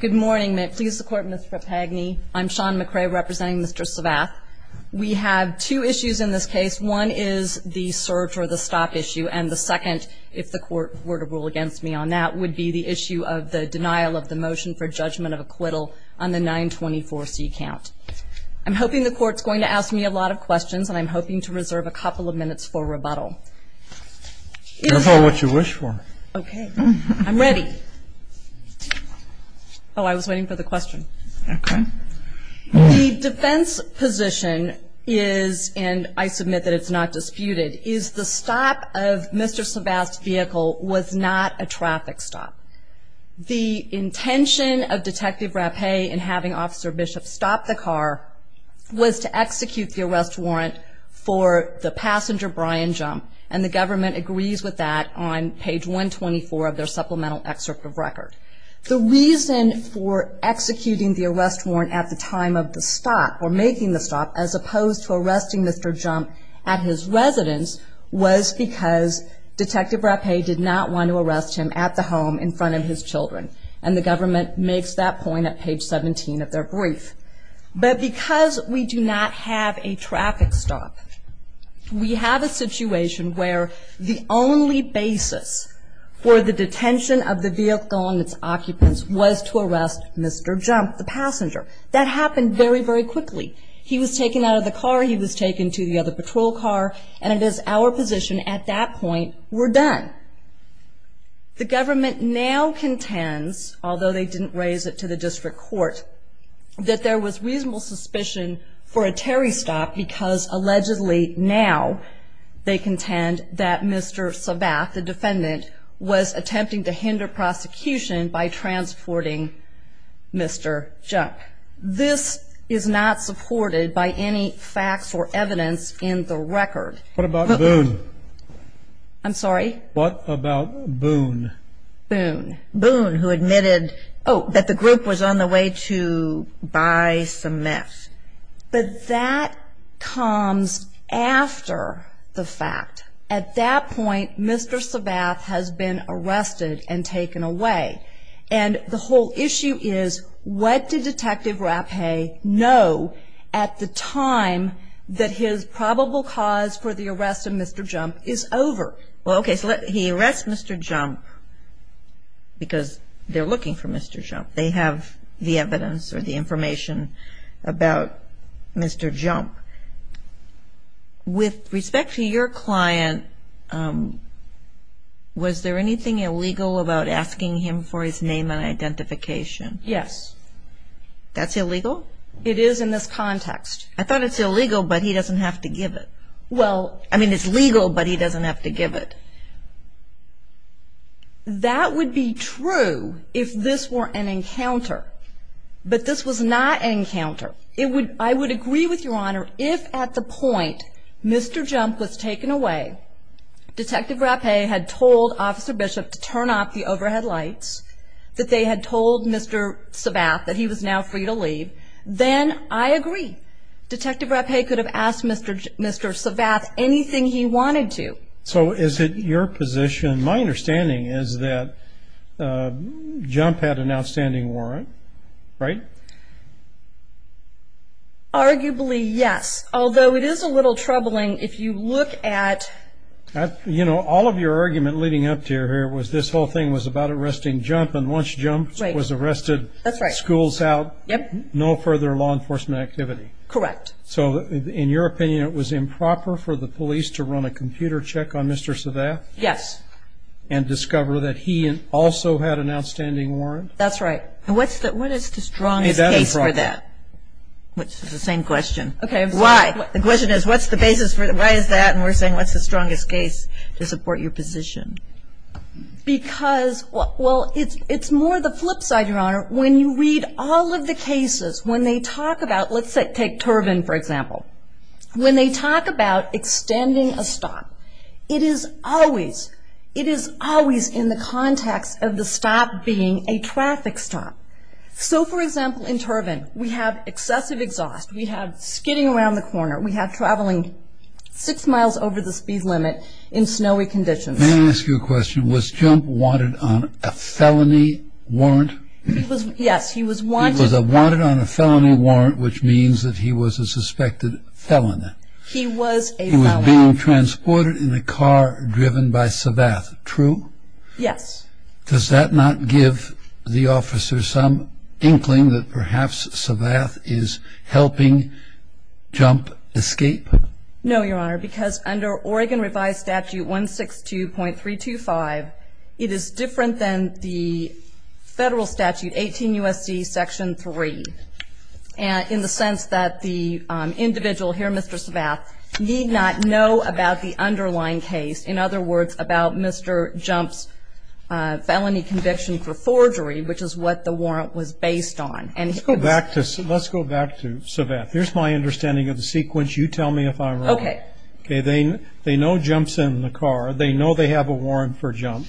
Good morning. May it please the Court, Mr. Pagny. I'm Shawn McCray representing Mr. Savath. We have two issues in this case. One is the surge or the stop issue, and the second, if the Court were to rule against me on that, would be the issue of the denial of the motion for judgment of acquittal on the 924C count. I'm hoping the Court's going to ask me a lot of questions, and I'm hoping to reserve a couple of minutes for rebuttal. That's all what you wish for. Okay. I'm ready. Oh, I was waiting for the question. Okay. The defense position is, and I submit that it's not disputed, is the stop of Mr. Savath's vehicle was not a traffic stop. The intention of Detective Rapéh in having Officer Bishop stop the car was to execute the arrest warrant for the passenger Brian Jump, and the government agrees with that on page 124 of their supplemental excerpt of record. The reason for executing the arrest warrant at the time of the stop, or making the stop, as opposed to arresting Mr. Jump at his residence, was because Detective Rapéh did not want to arrest him at the home in front of his children, and the government makes that point at page 17 of their brief. But because we do not have a traffic stop, we have a situation where the only basis for the detention of the vehicle and its occupants was to arrest Mr. Jump, the passenger. That happened very, very quickly. He was taken out of the car, he was taken to the other patrol car, and it is our position at that point, we're done. The government now contends, although they didn't raise it to the district court, that there was reasonable suspicion for a Terry stop because allegedly now they contend that Mr. Savath, the defendant, was attempting to hinder prosecution by transporting Mr. Jump. This is not supported by any facts or evidence in the record. What about Boone? I'm sorry? What about Boone? Boone. Boone, who admitted, oh, that the group was on the way to buy some meth. But that comes after the fact. At that point, Mr. Savath has been arrested and taken away. And the whole issue is, what did Detective Rapéh know at the time that his probable cause for the arrest of Mr. Jump is over? Well, okay, so he arrests Mr. Jump because they're looking for Mr. Jump. They have the evidence or the information about Mr. Jump. With respect to your client, was there anything illegal about asking him for his name and identification? Yes. That's illegal? It is in this context. I thought it's illegal, but he doesn't have to give it. Well, I mean, it's legal, but he doesn't have to give it. That would be true if this were an encounter. But this was not an encounter. I would agree with Your Honor, if at the point Mr. Jump was taken away, Detective Rapéh had told Officer Bishop to turn off the overhead lights, that they had told Mr. Savath that he was now free to leave, then I agree. Detective Rapéh could have asked Mr. Savath anything he wanted to. So is it your position, my understanding is that Jump had an outstanding warrant, right? Arguably, yes, although it is a little troubling if you look at – You know, all of your argument leading up to here was this whole thing was about arresting Jump, and once Jump was arrested, schools out, no further law enforcement activity. Correct. So in your opinion, it was improper for the police to run a computer check on Mr. Savath? Yes. And discover that he also had an outstanding warrant? That's right. And what is the strongest case for that? Which is the same question. Why? The question is, what's the basis for – why is that? And we're saying, what's the strongest case to support your position? Because – well, it's more the flip side, Your Honor. When you read all of the cases, when they talk about – let's take Turbin, for example. When they talk about extending a stop, it is always in the context of the stop being a traffic stop. So, for example, in Turbin, we have excessive exhaust, we have skidding around the corner, we have traveling six miles over the speed limit in snowy conditions. May I ask you a question? Was Jump wanted on a felony warrant? Yes, he was wanted. He was wanted on a felony warrant, which means that he was a suspected felon. He was a felon. He was being transported in a car driven by Savath, true? Yes. Does that not give the officer some inkling that perhaps Savath is helping Jump escape? No, Your Honor, because under Oregon Revised Statute 162.325, it is different than the federal statute, 18 U.S.C. Section 3, in the sense that the individual here, Mr. Savath, need not know about the underlying case. In other words, about Mr. Jump's felony conviction for forgery, which is what the warrant was based on. Let's go back to Savath. Here's my understanding of the sequence. You tell me if I'm wrong. Okay. They know Jump's in the car. They know they have a warrant for Jump.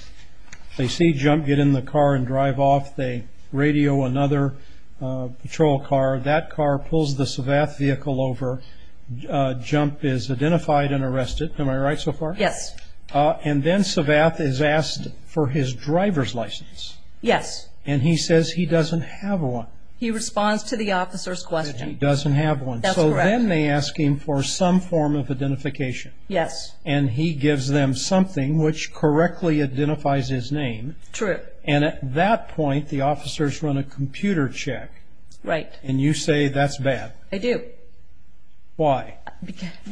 They see Jump get in the car and drive off. They radio another patrol car. That car pulls the Savath vehicle over. Jump is identified and arrested. Am I right so far? Yes. And then Savath is asked for his driver's license. Yes. And he says he doesn't have one. He responds to the officer's question. He doesn't have one. That's correct. So then they ask him for some form of identification. Yes. And he gives them something which correctly identifies his name. True. And at that point, the officers run a computer check. Right. And you say that's bad. I do.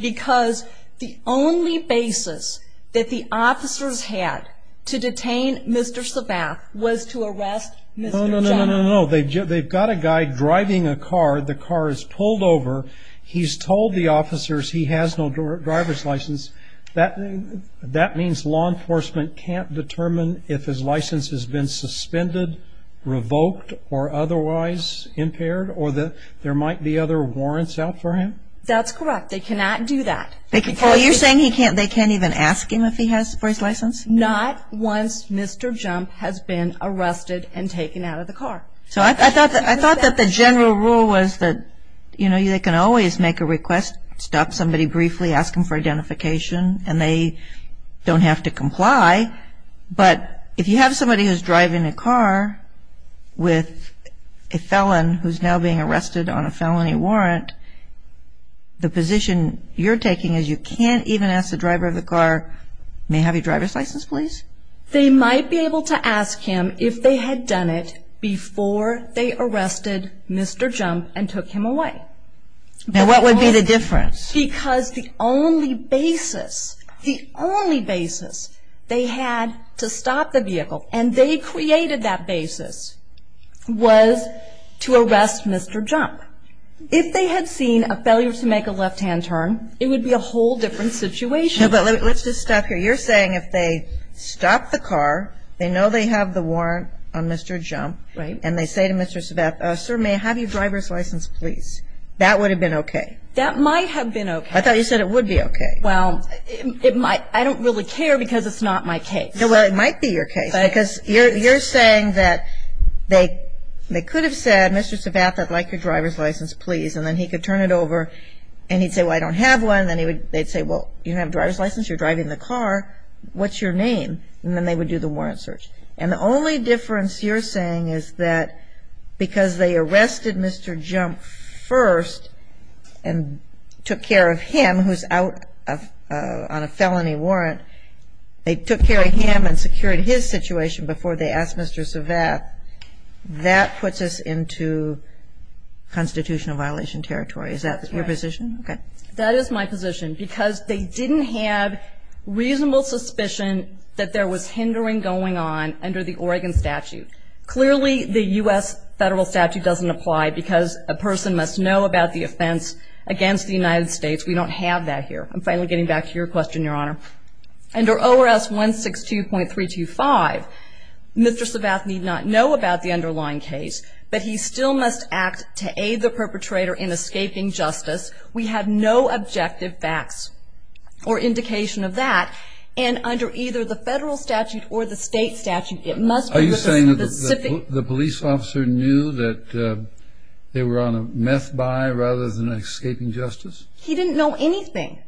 Because the only basis that the officers had to detain Mr. Savath was to arrest Mr. Jump. No, no, no, no, no. They've got a guy driving a car. The car is pulled over. He's told the officers he has no driver's license. That means law enforcement can't determine if his license has been suspended, revoked, or otherwise impaired, or there might be other warrants out for him? That's correct. They cannot do that. You're saying they can't even ask him if he has for his license? Not once Mr. Jump has been arrested and taken out of the car. So I thought that the general rule was that, you know, they can always make a request, stop somebody briefly, ask them for identification, and they don't have to comply. But if you have somebody who's driving a car with a felon who's now being arrested on a felony warrant, the position you're taking is you can't even ask the driver of the car, may I have your driver's license, please? They might be able to ask him if they had done it before they arrested Mr. Jump and took him away. Now, what would be the difference? Because the only basis, the only basis they had to stop the vehicle, and they created that basis, was to arrest Mr. Jump. If they had seen a failure to make a left-hand turn, it would be a whole different situation. No, but let's just stop here. You're saying if they stop the car, they know they have the warrant on Mr. Jump. Right. And they say to Mr. Savath, sir, may I have your driver's license, please? That would have been okay. That might have been okay. I thought you said it would be okay. Well, I don't really care because it's not my case. Well, it might be your case because you're saying that they could have said, Mr. Savath, I'd like your driver's license, please. And then he could turn it over and he'd say, well, I don't have one. Then they'd say, well, you don't have a driver's license, you're driving the car, what's your name? And then they would do the warrant search. And the only difference you're saying is that because they arrested Mr. Jump first and took care of him who's out on a felony warrant, they took care of him and secured his situation before they asked Mr. Savath. That puts us into constitutional violation territory. Is that your position? Okay. That is my position because they didn't have reasonable suspicion that there was hindering going on under the Oregon statute. Clearly, the U.S. federal statute doesn't apply because a person must know about the offense against the United States. We don't have that here. I'm finally getting back to your question, Your Honor. Under ORS 162.325, Mr. Savath need not know about the underlying case, but he still must act to aid the perpetrator in escaping justice. We have no objective facts or indication of that. And under either the federal statute or the state statute, it must be specific. Are you saying that the police officer knew that they were on a meth buy rather than escaping justice? He didn't know anything.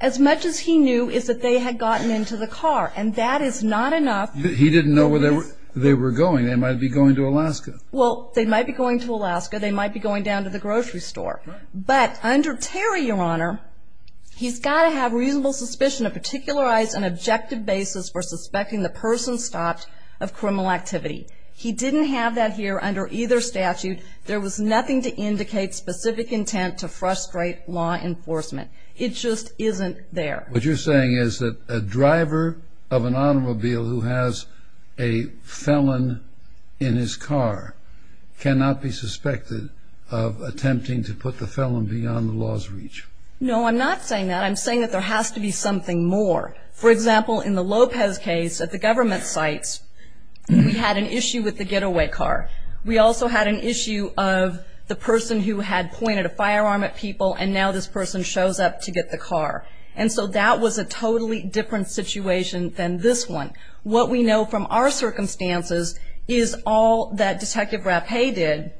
As much as he knew is that they had gotten into the car, and that is not enough. He didn't know where they were going. They might be going to Alaska. Well, they might be going to Alaska. They might be going down to the grocery store. But under Terry, Your Honor, he's got to have reasonable suspicion of particularized and objective basis for suspecting the person stopped of criminal activity. He didn't have that here under either statute. There was nothing to indicate specific intent to frustrate law enforcement. It just isn't there. What you're saying is that a driver of an automobile who has a felon in his car cannot be suspected of attempting to put the felon beyond the law's reach. No, I'm not saying that. I'm saying that there has to be something more. For example, in the Lopez case at the government sites, we had an issue with the getaway car. We also had an issue of the person who had pointed a firearm at people, and now this person shows up to get the car. And so that was a totally different situation than this one. What we know from our circumstances is all that Detective Rapéh did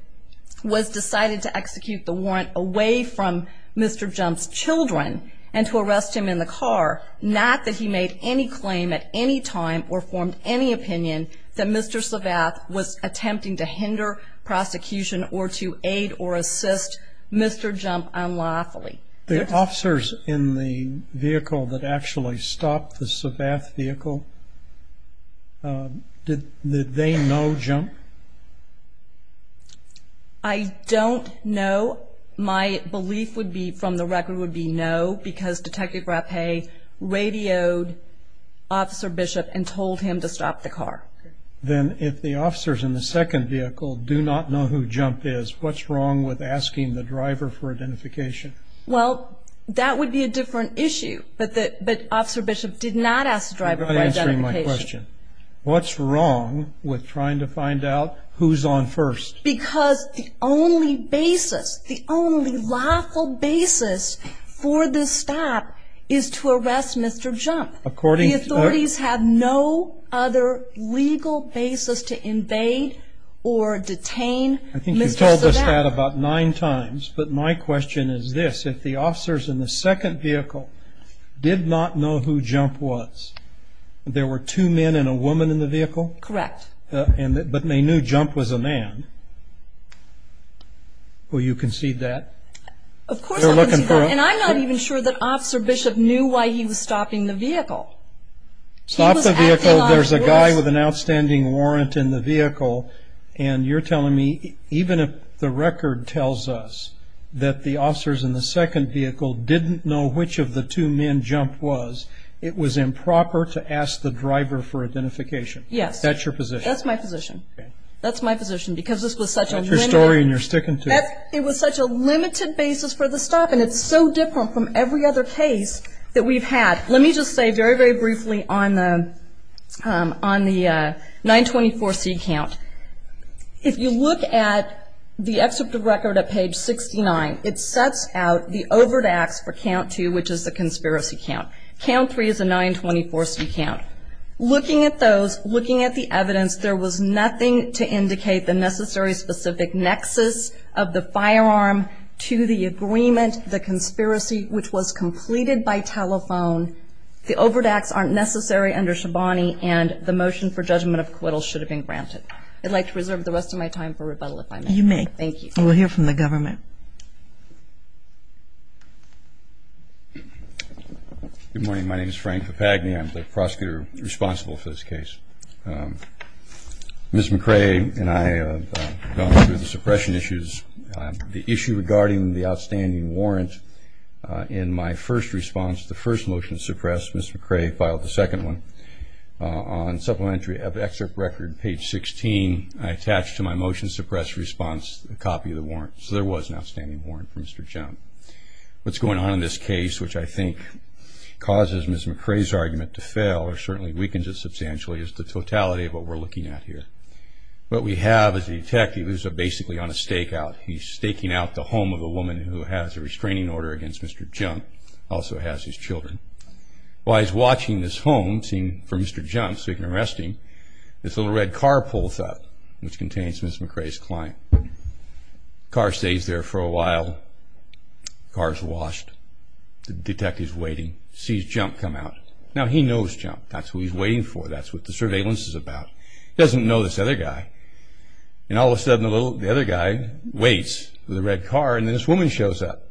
was decided to execute the warrant away from Mr. Jump's children and to arrest him in the car, not that he made any claim at any time or formed any opinion that Mr. Savath was attempting to hinder prosecution or to aid or assist Mr. Jump unlawfully. The officers in the vehicle that actually stopped the Savath vehicle, did they know Jump? I don't know. My belief from the record would be no, because Detective Rapéh radioed Officer Bishop and told him to stop the car. Then if the officers in the second vehicle do not know who Jump is, what's wrong with asking the driver for identification? Well, that would be a different issue. But Officer Bishop did not ask the driver for identification. You're not answering my question. What's wrong with trying to find out who's on first? Because the only basis, the only lawful basis for this stop is to arrest Mr. Jump. The authorities have no other legal basis to invade or detain Mr. Savath. I think you've told us that about nine times, but my question is this, if the officers in the second vehicle did not know who Jump was, there were two men and a woman in the vehicle? Correct. But they knew Jump was a man. Will you concede that? Of course I'll concede that, and I'm not even sure that Officer Bishop knew why he was stopping the vehicle. Stopped the vehicle, there's a guy with an outstanding warrant in the vehicle, and you're telling me even if the record tells us that the officers in the second vehicle didn't know which of the two men Jump was, it was improper to ask the driver for identification? Yes. That's your position? That's my position. Okay. That's my position because this was such a limited. That's your story and you're sticking to it. It was such a limited basis for the stop, and it's so different from every other case that we've had. Let me just say very, very briefly on the 924C count. If you look at the excerpt of record at page 69, it sets out the overt acts for count two, which is the conspiracy count. Count three is a 924C count. Looking at those, looking at the evidence, there was nothing to indicate the necessary specific nexus of the firearm to the agreement, the conspiracy, which was completed by telephone. The overt acts aren't necessary under Shabani, and the motion for judgment of acquittal should have been granted. I'd like to reserve the rest of my time for rebuttal if I may. You may. Thank you. We'll hear from the government. Good morning. My name is Frank Papagni. I'm the prosecutor responsible for this case. Ms. McRae and I have gone through the suppression issues. The issue regarding the outstanding warrant in my first response to the first motion to suppress, Ms. McRae filed the second one. On supplementary excerpt record, page 16, I attached to my motion to suppress response a copy of the warrant, so there was an outstanding warrant for Mr. Jones. What's going on in this case, which I think causes Ms. McRae's argument to fail or certainly weakens it substantially, is the totality of what we're looking at here. What we have is a detective who's basically on a stakeout. He's staking out the home of a woman who has a restraining order against Mr. Jones, also has his children. While he's watching this home, seeing for Mr. Jones, so he can arrest him, this little red car pulls up, which contains Ms. McRae's client. The car stays there for a while. The car is washed. The detective is waiting, sees Jump come out. Now, he knows Jump. That's who he's waiting for. That's what the surveillance is about. He doesn't know this other guy. And all of a sudden, the other guy waits for the red car, and then this woman shows up.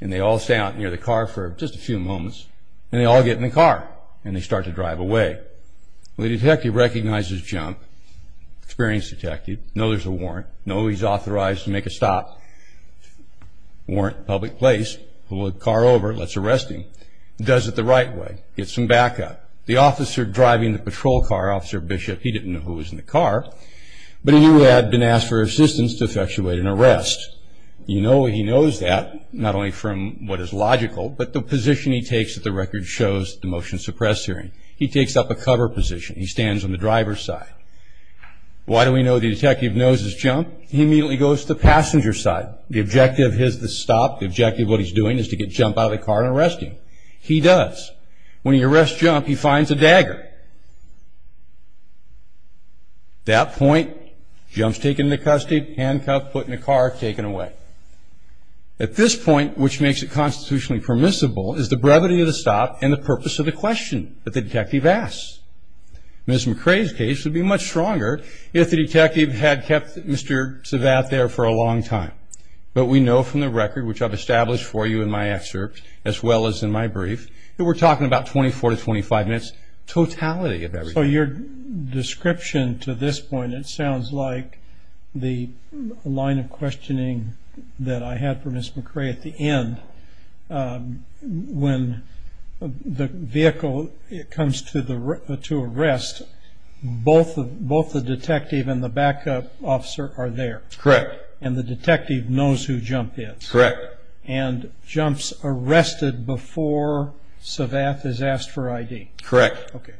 And they all stay out near the car for just a few moments. And they all get in the car, and they start to drive away. The detective recognizes Jump. Experienced detective. Know there's a warrant. Know he's authorized to make a stop. Warrant, public place. Pull the car over. Let's arrest him. Does it the right way. Gets some backup. The officer driving the patrol car, Officer Bishop, he didn't know who was in the car. But he had been asked for assistance to effectuate an arrest. You know he knows that, not only from what is logical, but the position he takes that the record shows at the motion suppress hearing. He takes up a cover position. He stands on the driver's side. Why do we know the detective knows it's Jump? He immediately goes to the passenger side. The objective is to stop. The objective of what he's doing is to get Jump out of the car and arrest him. He does. When he arrests Jump, he finds a dagger. At that point, Jump's taken into custody, handcuffed, put in the car, taken away. At this point, which makes it constitutionally permissible, is the brevity of the stop and the purpose of the question that the detective asks. Ms. McRae's case would be much stronger if the detective had kept Mr. Savatt there for a long time. But we know from the record, which I've established for you in my excerpt, as well as in my brief, that we're talking about 24 to 25 minutes, totality of everything. So your description to this point, it sounds like the line of questioning that I had for Ms. McRae at the end, when the vehicle comes to arrest, both the detective and the backup officer are there. Correct. And the detective knows who Jump is. Correct. And Jump's arrested before Savatt is asked for ID. Correct. Okay.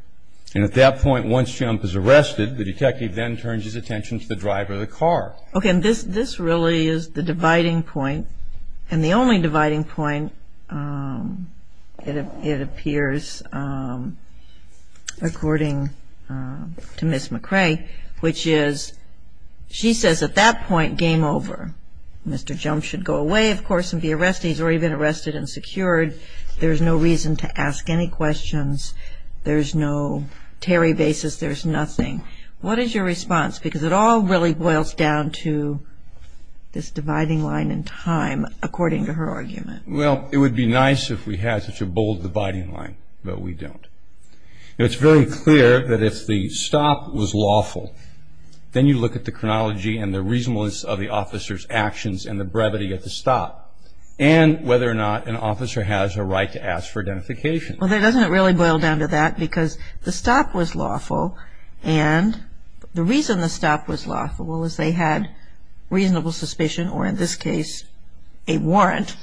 And at that point, once Jump is arrested, the detective then turns his attention to the driver of the car. Okay. And this really is the dividing point, and the only dividing point, it appears, according to Ms. McRae, which is she says at that point, game over. Mr. Jump should go away, of course, and be arrested. He's already been arrested and secured. There's no reason to ask any questions. There's no Terry basis. There's nothing. What is your response? Because it all really boils down to this dividing line in time, according to her argument. Well, it would be nice if we had such a bold dividing line, but we don't. It's very clear that if the stop was lawful, then you look at the chronology and the reasonableness of the officer's actions and the brevity of the stop, and whether or not an officer has a right to ask for identification. Well, doesn't it really boil down to that? Because the stop was lawful, and the reason the stop was lawful was they had reasonable suspicion, or in this case, a warrant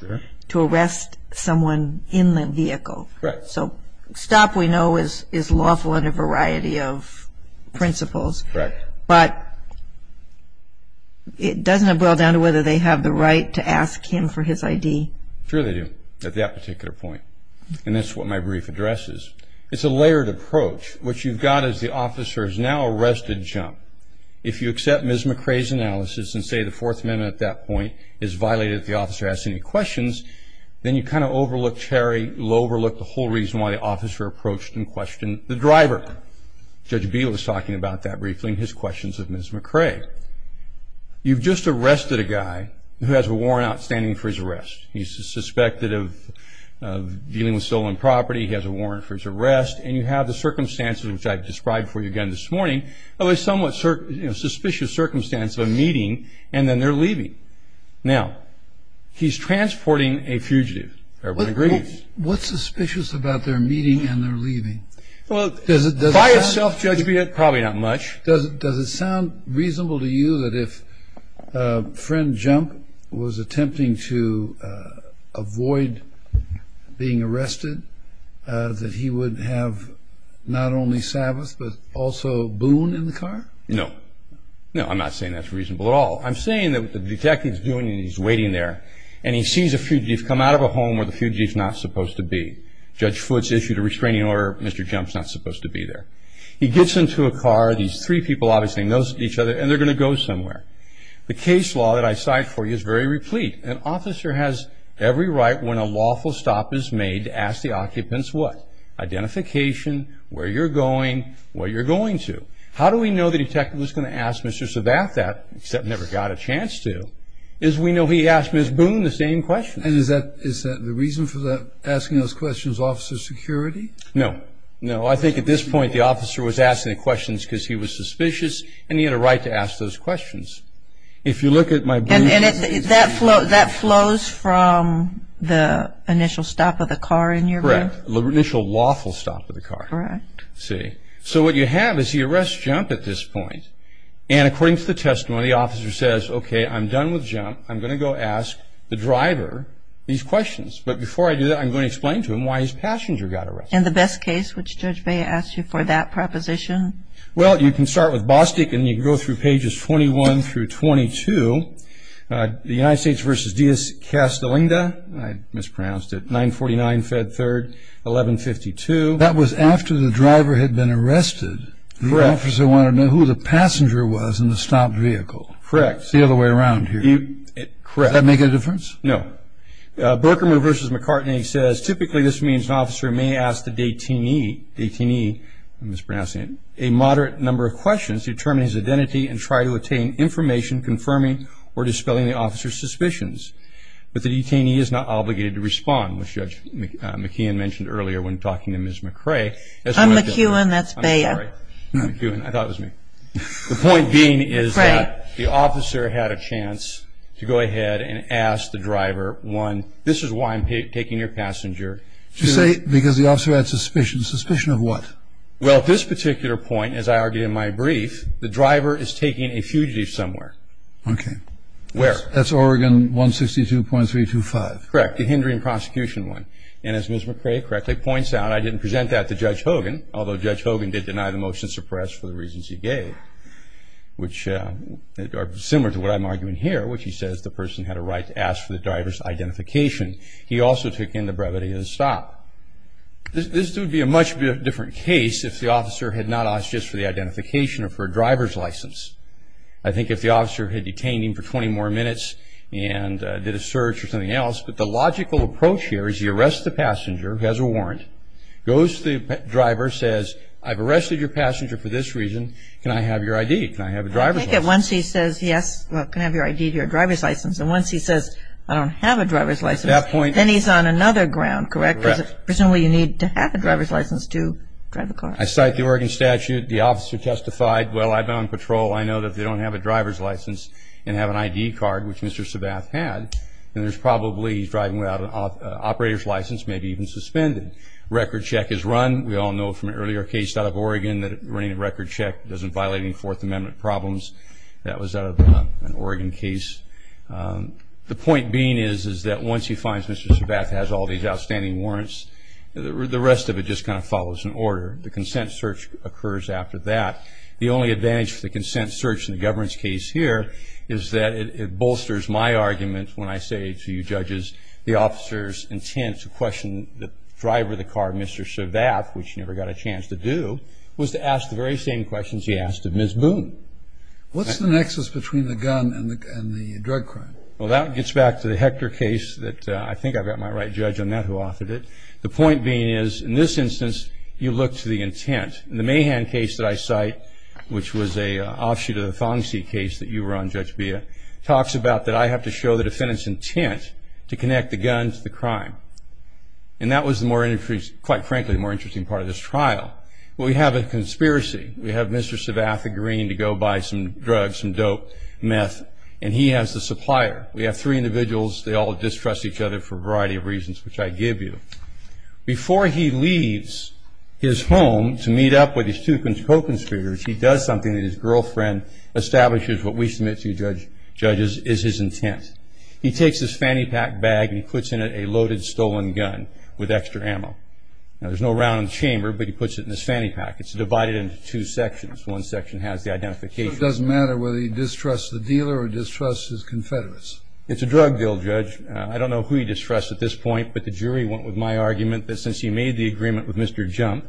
to arrest someone in the vehicle. Correct. So stop, we know, is lawful under a variety of principles. Correct. But it doesn't boil down to whether they have the right to ask him for his ID. Sure they do at that particular point, and that's what my brief addresses. It's a layered approach. What you've got is the officer's now arrested jump. If you accept Ms. McRae's analysis and say the Fourth Amendment at that point is violated if the officer asks any questions, then you kind of overlook Terry, overlook the whole reason why the officer approached and questioned the driver. Judge Beal is talking about that briefly in his questions of Ms. McRae. You've just arrested a guy who has a warrant outstanding for his arrest. He's suspected of dealing with stolen property. He has a warrant for his arrest. And you have the circumstances, which I've described for you again this morning, of a somewhat suspicious circumstance of a meeting and then their leaving. Now, he's transporting a fugitive. Everybody agrees. What's suspicious about their meeting and their leaving? Well, by a self-judgment, probably not much. Does it sound reasonable to you that if friend Jump was attempting to avoid being arrested, that he would have not only Sabbath but also Boone in the car? No. No, I'm not saying that's reasonable at all. I'm saying that what the detective's doing, he's waiting there, and he sees a fugitive come out of a home where the fugitive's not supposed to be. Judge Foote's issued a restraining order. Mr. Jump's not supposed to be there. He gets into a car. These three people obviously know each other, and they're going to go somewhere. The case law that I cite for you is very replete. An officer has every right when a lawful stop is made to ask the occupants what? Identification, where you're going, what you're going to. How do we know the detective was going to ask Mr. Sabath that, except never got a chance to, is we know he asked Ms. Boone the same question. And is that the reason for asking those questions, officer security? No. No, I think at this point the officer was asking the questions because he was suspicious, and he had a right to ask those questions. If you look at my briefcase. And that flows from the initial stop of the car in your room? Correct. The initial lawful stop of the car. Correct. See? So what you have is he arrests Jump at this point, and according to the testimony, the officer says, okay, I'm done with Jump. I'm going to go ask the driver these questions. But before I do that, I'm going to explain to him why his passenger got arrested. And the best case, which Judge Bea asked you for that proposition? Well, you can start with Bostick, and you can go through pages 21 through 22. The United States v. Diaz-Castellinga, I mispronounced it, 949 Fed 3rd, 1152. That was after the driver had been arrested. Correct. The officer wanted to know who the passenger was in the stopped vehicle. Correct. It's the other way around here. Correct. Does that make a difference? No. Berkerman v. McCartney says, typically this means an officer may ask the detainee a moderate number of questions to determine his identity and try to obtain information confirming or dispelling the officer's suspicions. But the detainee is not obligated to respond, which Judge McKeon mentioned earlier when talking to Ms. McCray. I'm McKeon. That's Bea. I'm sorry. I thought it was me. The point being is that the officer had a chance to go ahead and ask the driver, one, this is why I'm taking your passenger. You say because the officer had suspicions. Suspicion of what? Well, at this particular point, as I argued in my brief, the driver is taking a fugitive somewhere. Okay. Where? That's Oregon 162.325. Correct. The hindering prosecution one. And as Ms. McCray correctly points out, I didn't present that to Judge Hogan, although Judge Hogan did deny the motion suppressed for the reasons he gave, which are similar to what I'm arguing here, which he says the person had a right to ask for the driver's identification. He also took in the brevity of the stop. This would be a much different case if the officer had not asked just for the identification or for a driver's license. I think if the officer had detained him for 20 more minutes and did a search or something else. But the logical approach here is he arrests the passenger, who has a warrant, goes to the driver, says, I've arrested your passenger for this reason. Can I have your ID? Can I have a driver's license? I think that once he says yes, well, can I have your ID, your driver's license, and once he says, I don't have a driver's license. At that point. Then he's on another ground, correct? Correct. Because presumably you need to have a driver's license to drive a car. I cite the Oregon statute. The officer testified, well, I've been on patrol. I know that if they don't have a driver's license and have an ID card, which Mr. Sabath had, then there's probably, he's driving without an operator's license, maybe even suspended. Record check is run. We all know from an earlier case out of Oregon that running a record check doesn't violate any Fourth Amendment problems. That was out of an Oregon case. The point being is that once he finds Mr. Sabath has all these outstanding warrants, the rest of it just kind of follows in order. The consent search occurs after that. The only advantage for the consent search in the governance case here is that it bolsters my argument when I say to you judges, the officer's intent to question the driver of the car, Mr. Sabath, which he never got a chance to do, was to ask the very same questions he asked of Ms. Boone. What's the nexus between the gun and the drug crime? Well, that gets back to the Hector case. I think I've got my right judge on that who authored it. The point being is, in this instance, you look to the intent. In the Mahan case that I cite, which was an offshoot of the Fongsi case that you were on, Judge Beha, talks about that I have to show the defendant's intent to connect the gun to the crime. And that was, quite frankly, the more interesting part of this trial. We have a conspiracy. We have Mr. Sabath agreeing to go buy some drugs, some dope, meth, and he has the supplier. We have three individuals. They all distrust each other for a variety of reasons, which I give you. Before he leaves his home to meet up with his two co-conspirators, he does something that his girlfriend establishes what we submit to you judges is his intent. He takes his fanny pack bag and he puts in it a loaded stolen gun with extra ammo. Now, there's no round in the chamber, but he puts it in his fanny pack. It's divided into two sections. One section has the identification. So it doesn't matter whether he distrusts the dealer or distrusts his confederates? It's a drug deal, Judge. I don't know who he distrusts at this point, but the jury went with my argument that since he made the agreement with Mr. Jump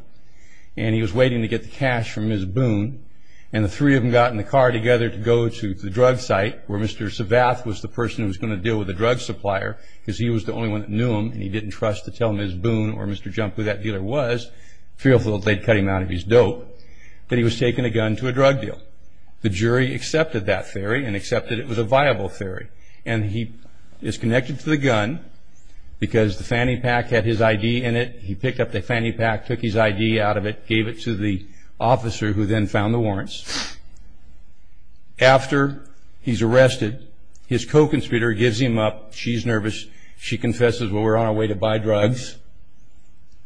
and he was waiting to get the cash from Ms. Boone and the three of them got in the car together to go to the drug site where Mr. Sabath was the person who was going to deal with the drug supplier because he was the only one that knew him and he didn't trust to tell Ms. Boone or Mr. Jump who that dealer was, fearful that they'd cut him out of his dope, that he was taking a gun to a drug deal. The jury accepted that theory and accepted it was a viable theory. And he is connected to the gun because the fanny pack had his ID in it. He picked up the fanny pack, took his ID out of it, gave it to the officer who then found the warrants. After he's arrested, his co-conspirator gives him up. She's nervous. She confesses, well, we're on our way to buy drugs.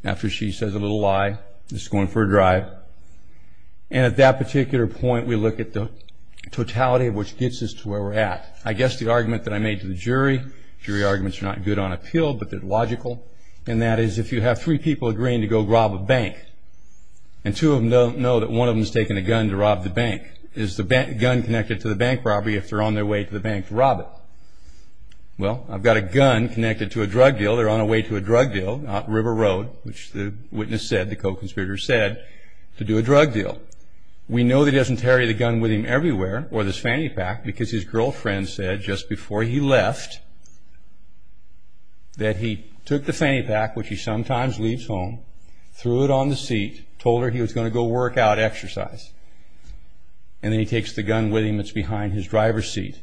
After she says a little lie, this is going for a drive. And at that particular point, we look at the totality of what gets us to where we're at. I guess the argument that I made to the jury, jury arguments are not good on appeal, but they're logical, and that is if you have three people agreeing to go rob a bank and two of them know that one of them has taken a gun to rob the bank, is the gun connected to the bank property if they're on their way to the bank to rob it? Well, I've got a gun connected to a drug deal. They're on their way to a drug deal out on River Road, which the witness said, the co-conspirator said, to do a drug deal. We know that he doesn't carry the gun with him everywhere or this fanny pack because his girlfriend said just before he left that he took the fanny pack, which he sometimes leaves home, threw it on the seat, told her he was going to go work out, exercise, and then he takes the gun with him that's behind his driver's seat.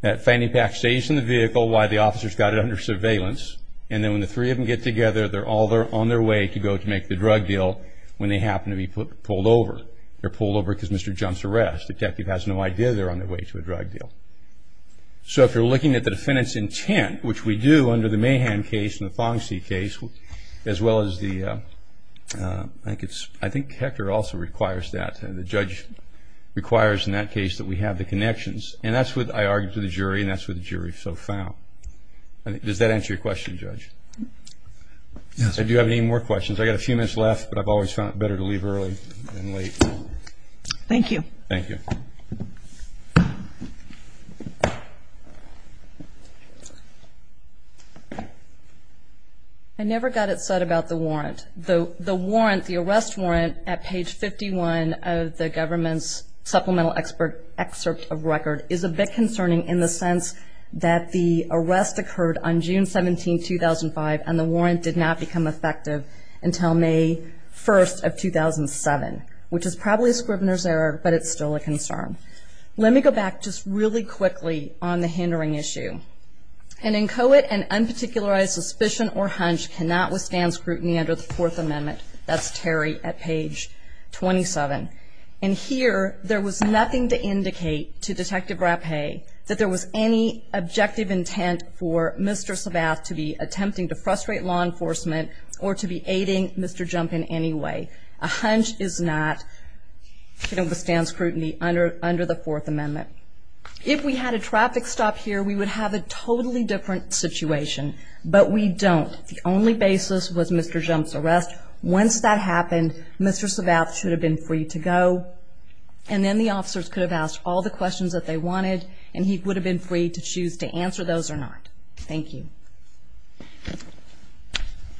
That fanny pack stays in the vehicle while the officer's got it under surveillance, and then when the three of them get together, they're all on their way to go to make the drug deal when they happen to be pulled over. They're pulled over because Mr. Jump's arrest. The detective has no idea they're on their way to a drug deal. So if you're looking at the defendant's intent, which we do under the Mahan case and the Fong C case, as well as the – I think it's – I think Hector also requires that. The judge requires in that case that we have the connections, and that's what I argued to the jury, and that's what the jury so found. Does that answer your question, Judge? Yes. Do you have any more questions? I've got a few minutes left, but I've always found it better to leave early than late. Thank you. Thank you. I never got it said about the warrant. The warrant, the arrest warrant at page 51 of the government's supplemental excerpt of record is a bit concerning in the sense that the arrest occurred on June 17, 2005, and the warrant did not become effective until May 1st of 2007, which is probably Scribner's error, but it's still a concern. Let me go back just really quickly on the hindering issue. An inchoate and unparticularized suspicion or hunch cannot withstand scrutiny under the Fourth Amendment. That's Terry at page 27. And here, there was nothing to indicate to Detective Rappe that there was any objective intent for Mr. Savath to be attempting to frustrate law enforcement or to be aiding Mr. Jump in any way. A hunch is not to withstand scrutiny under the Fourth Amendment. If we had a traffic stop here, we would have a totally different situation, but we don't. The only basis was Mr. Jump's arrest. Once that happened, Mr. Savath should have been free to go, and then the officers could have asked all the questions that they wanted, and he would have been free to choose to answer those or not. Thank you.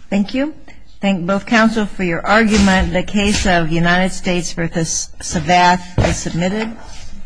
Thank you. Thank both counsel for your argument.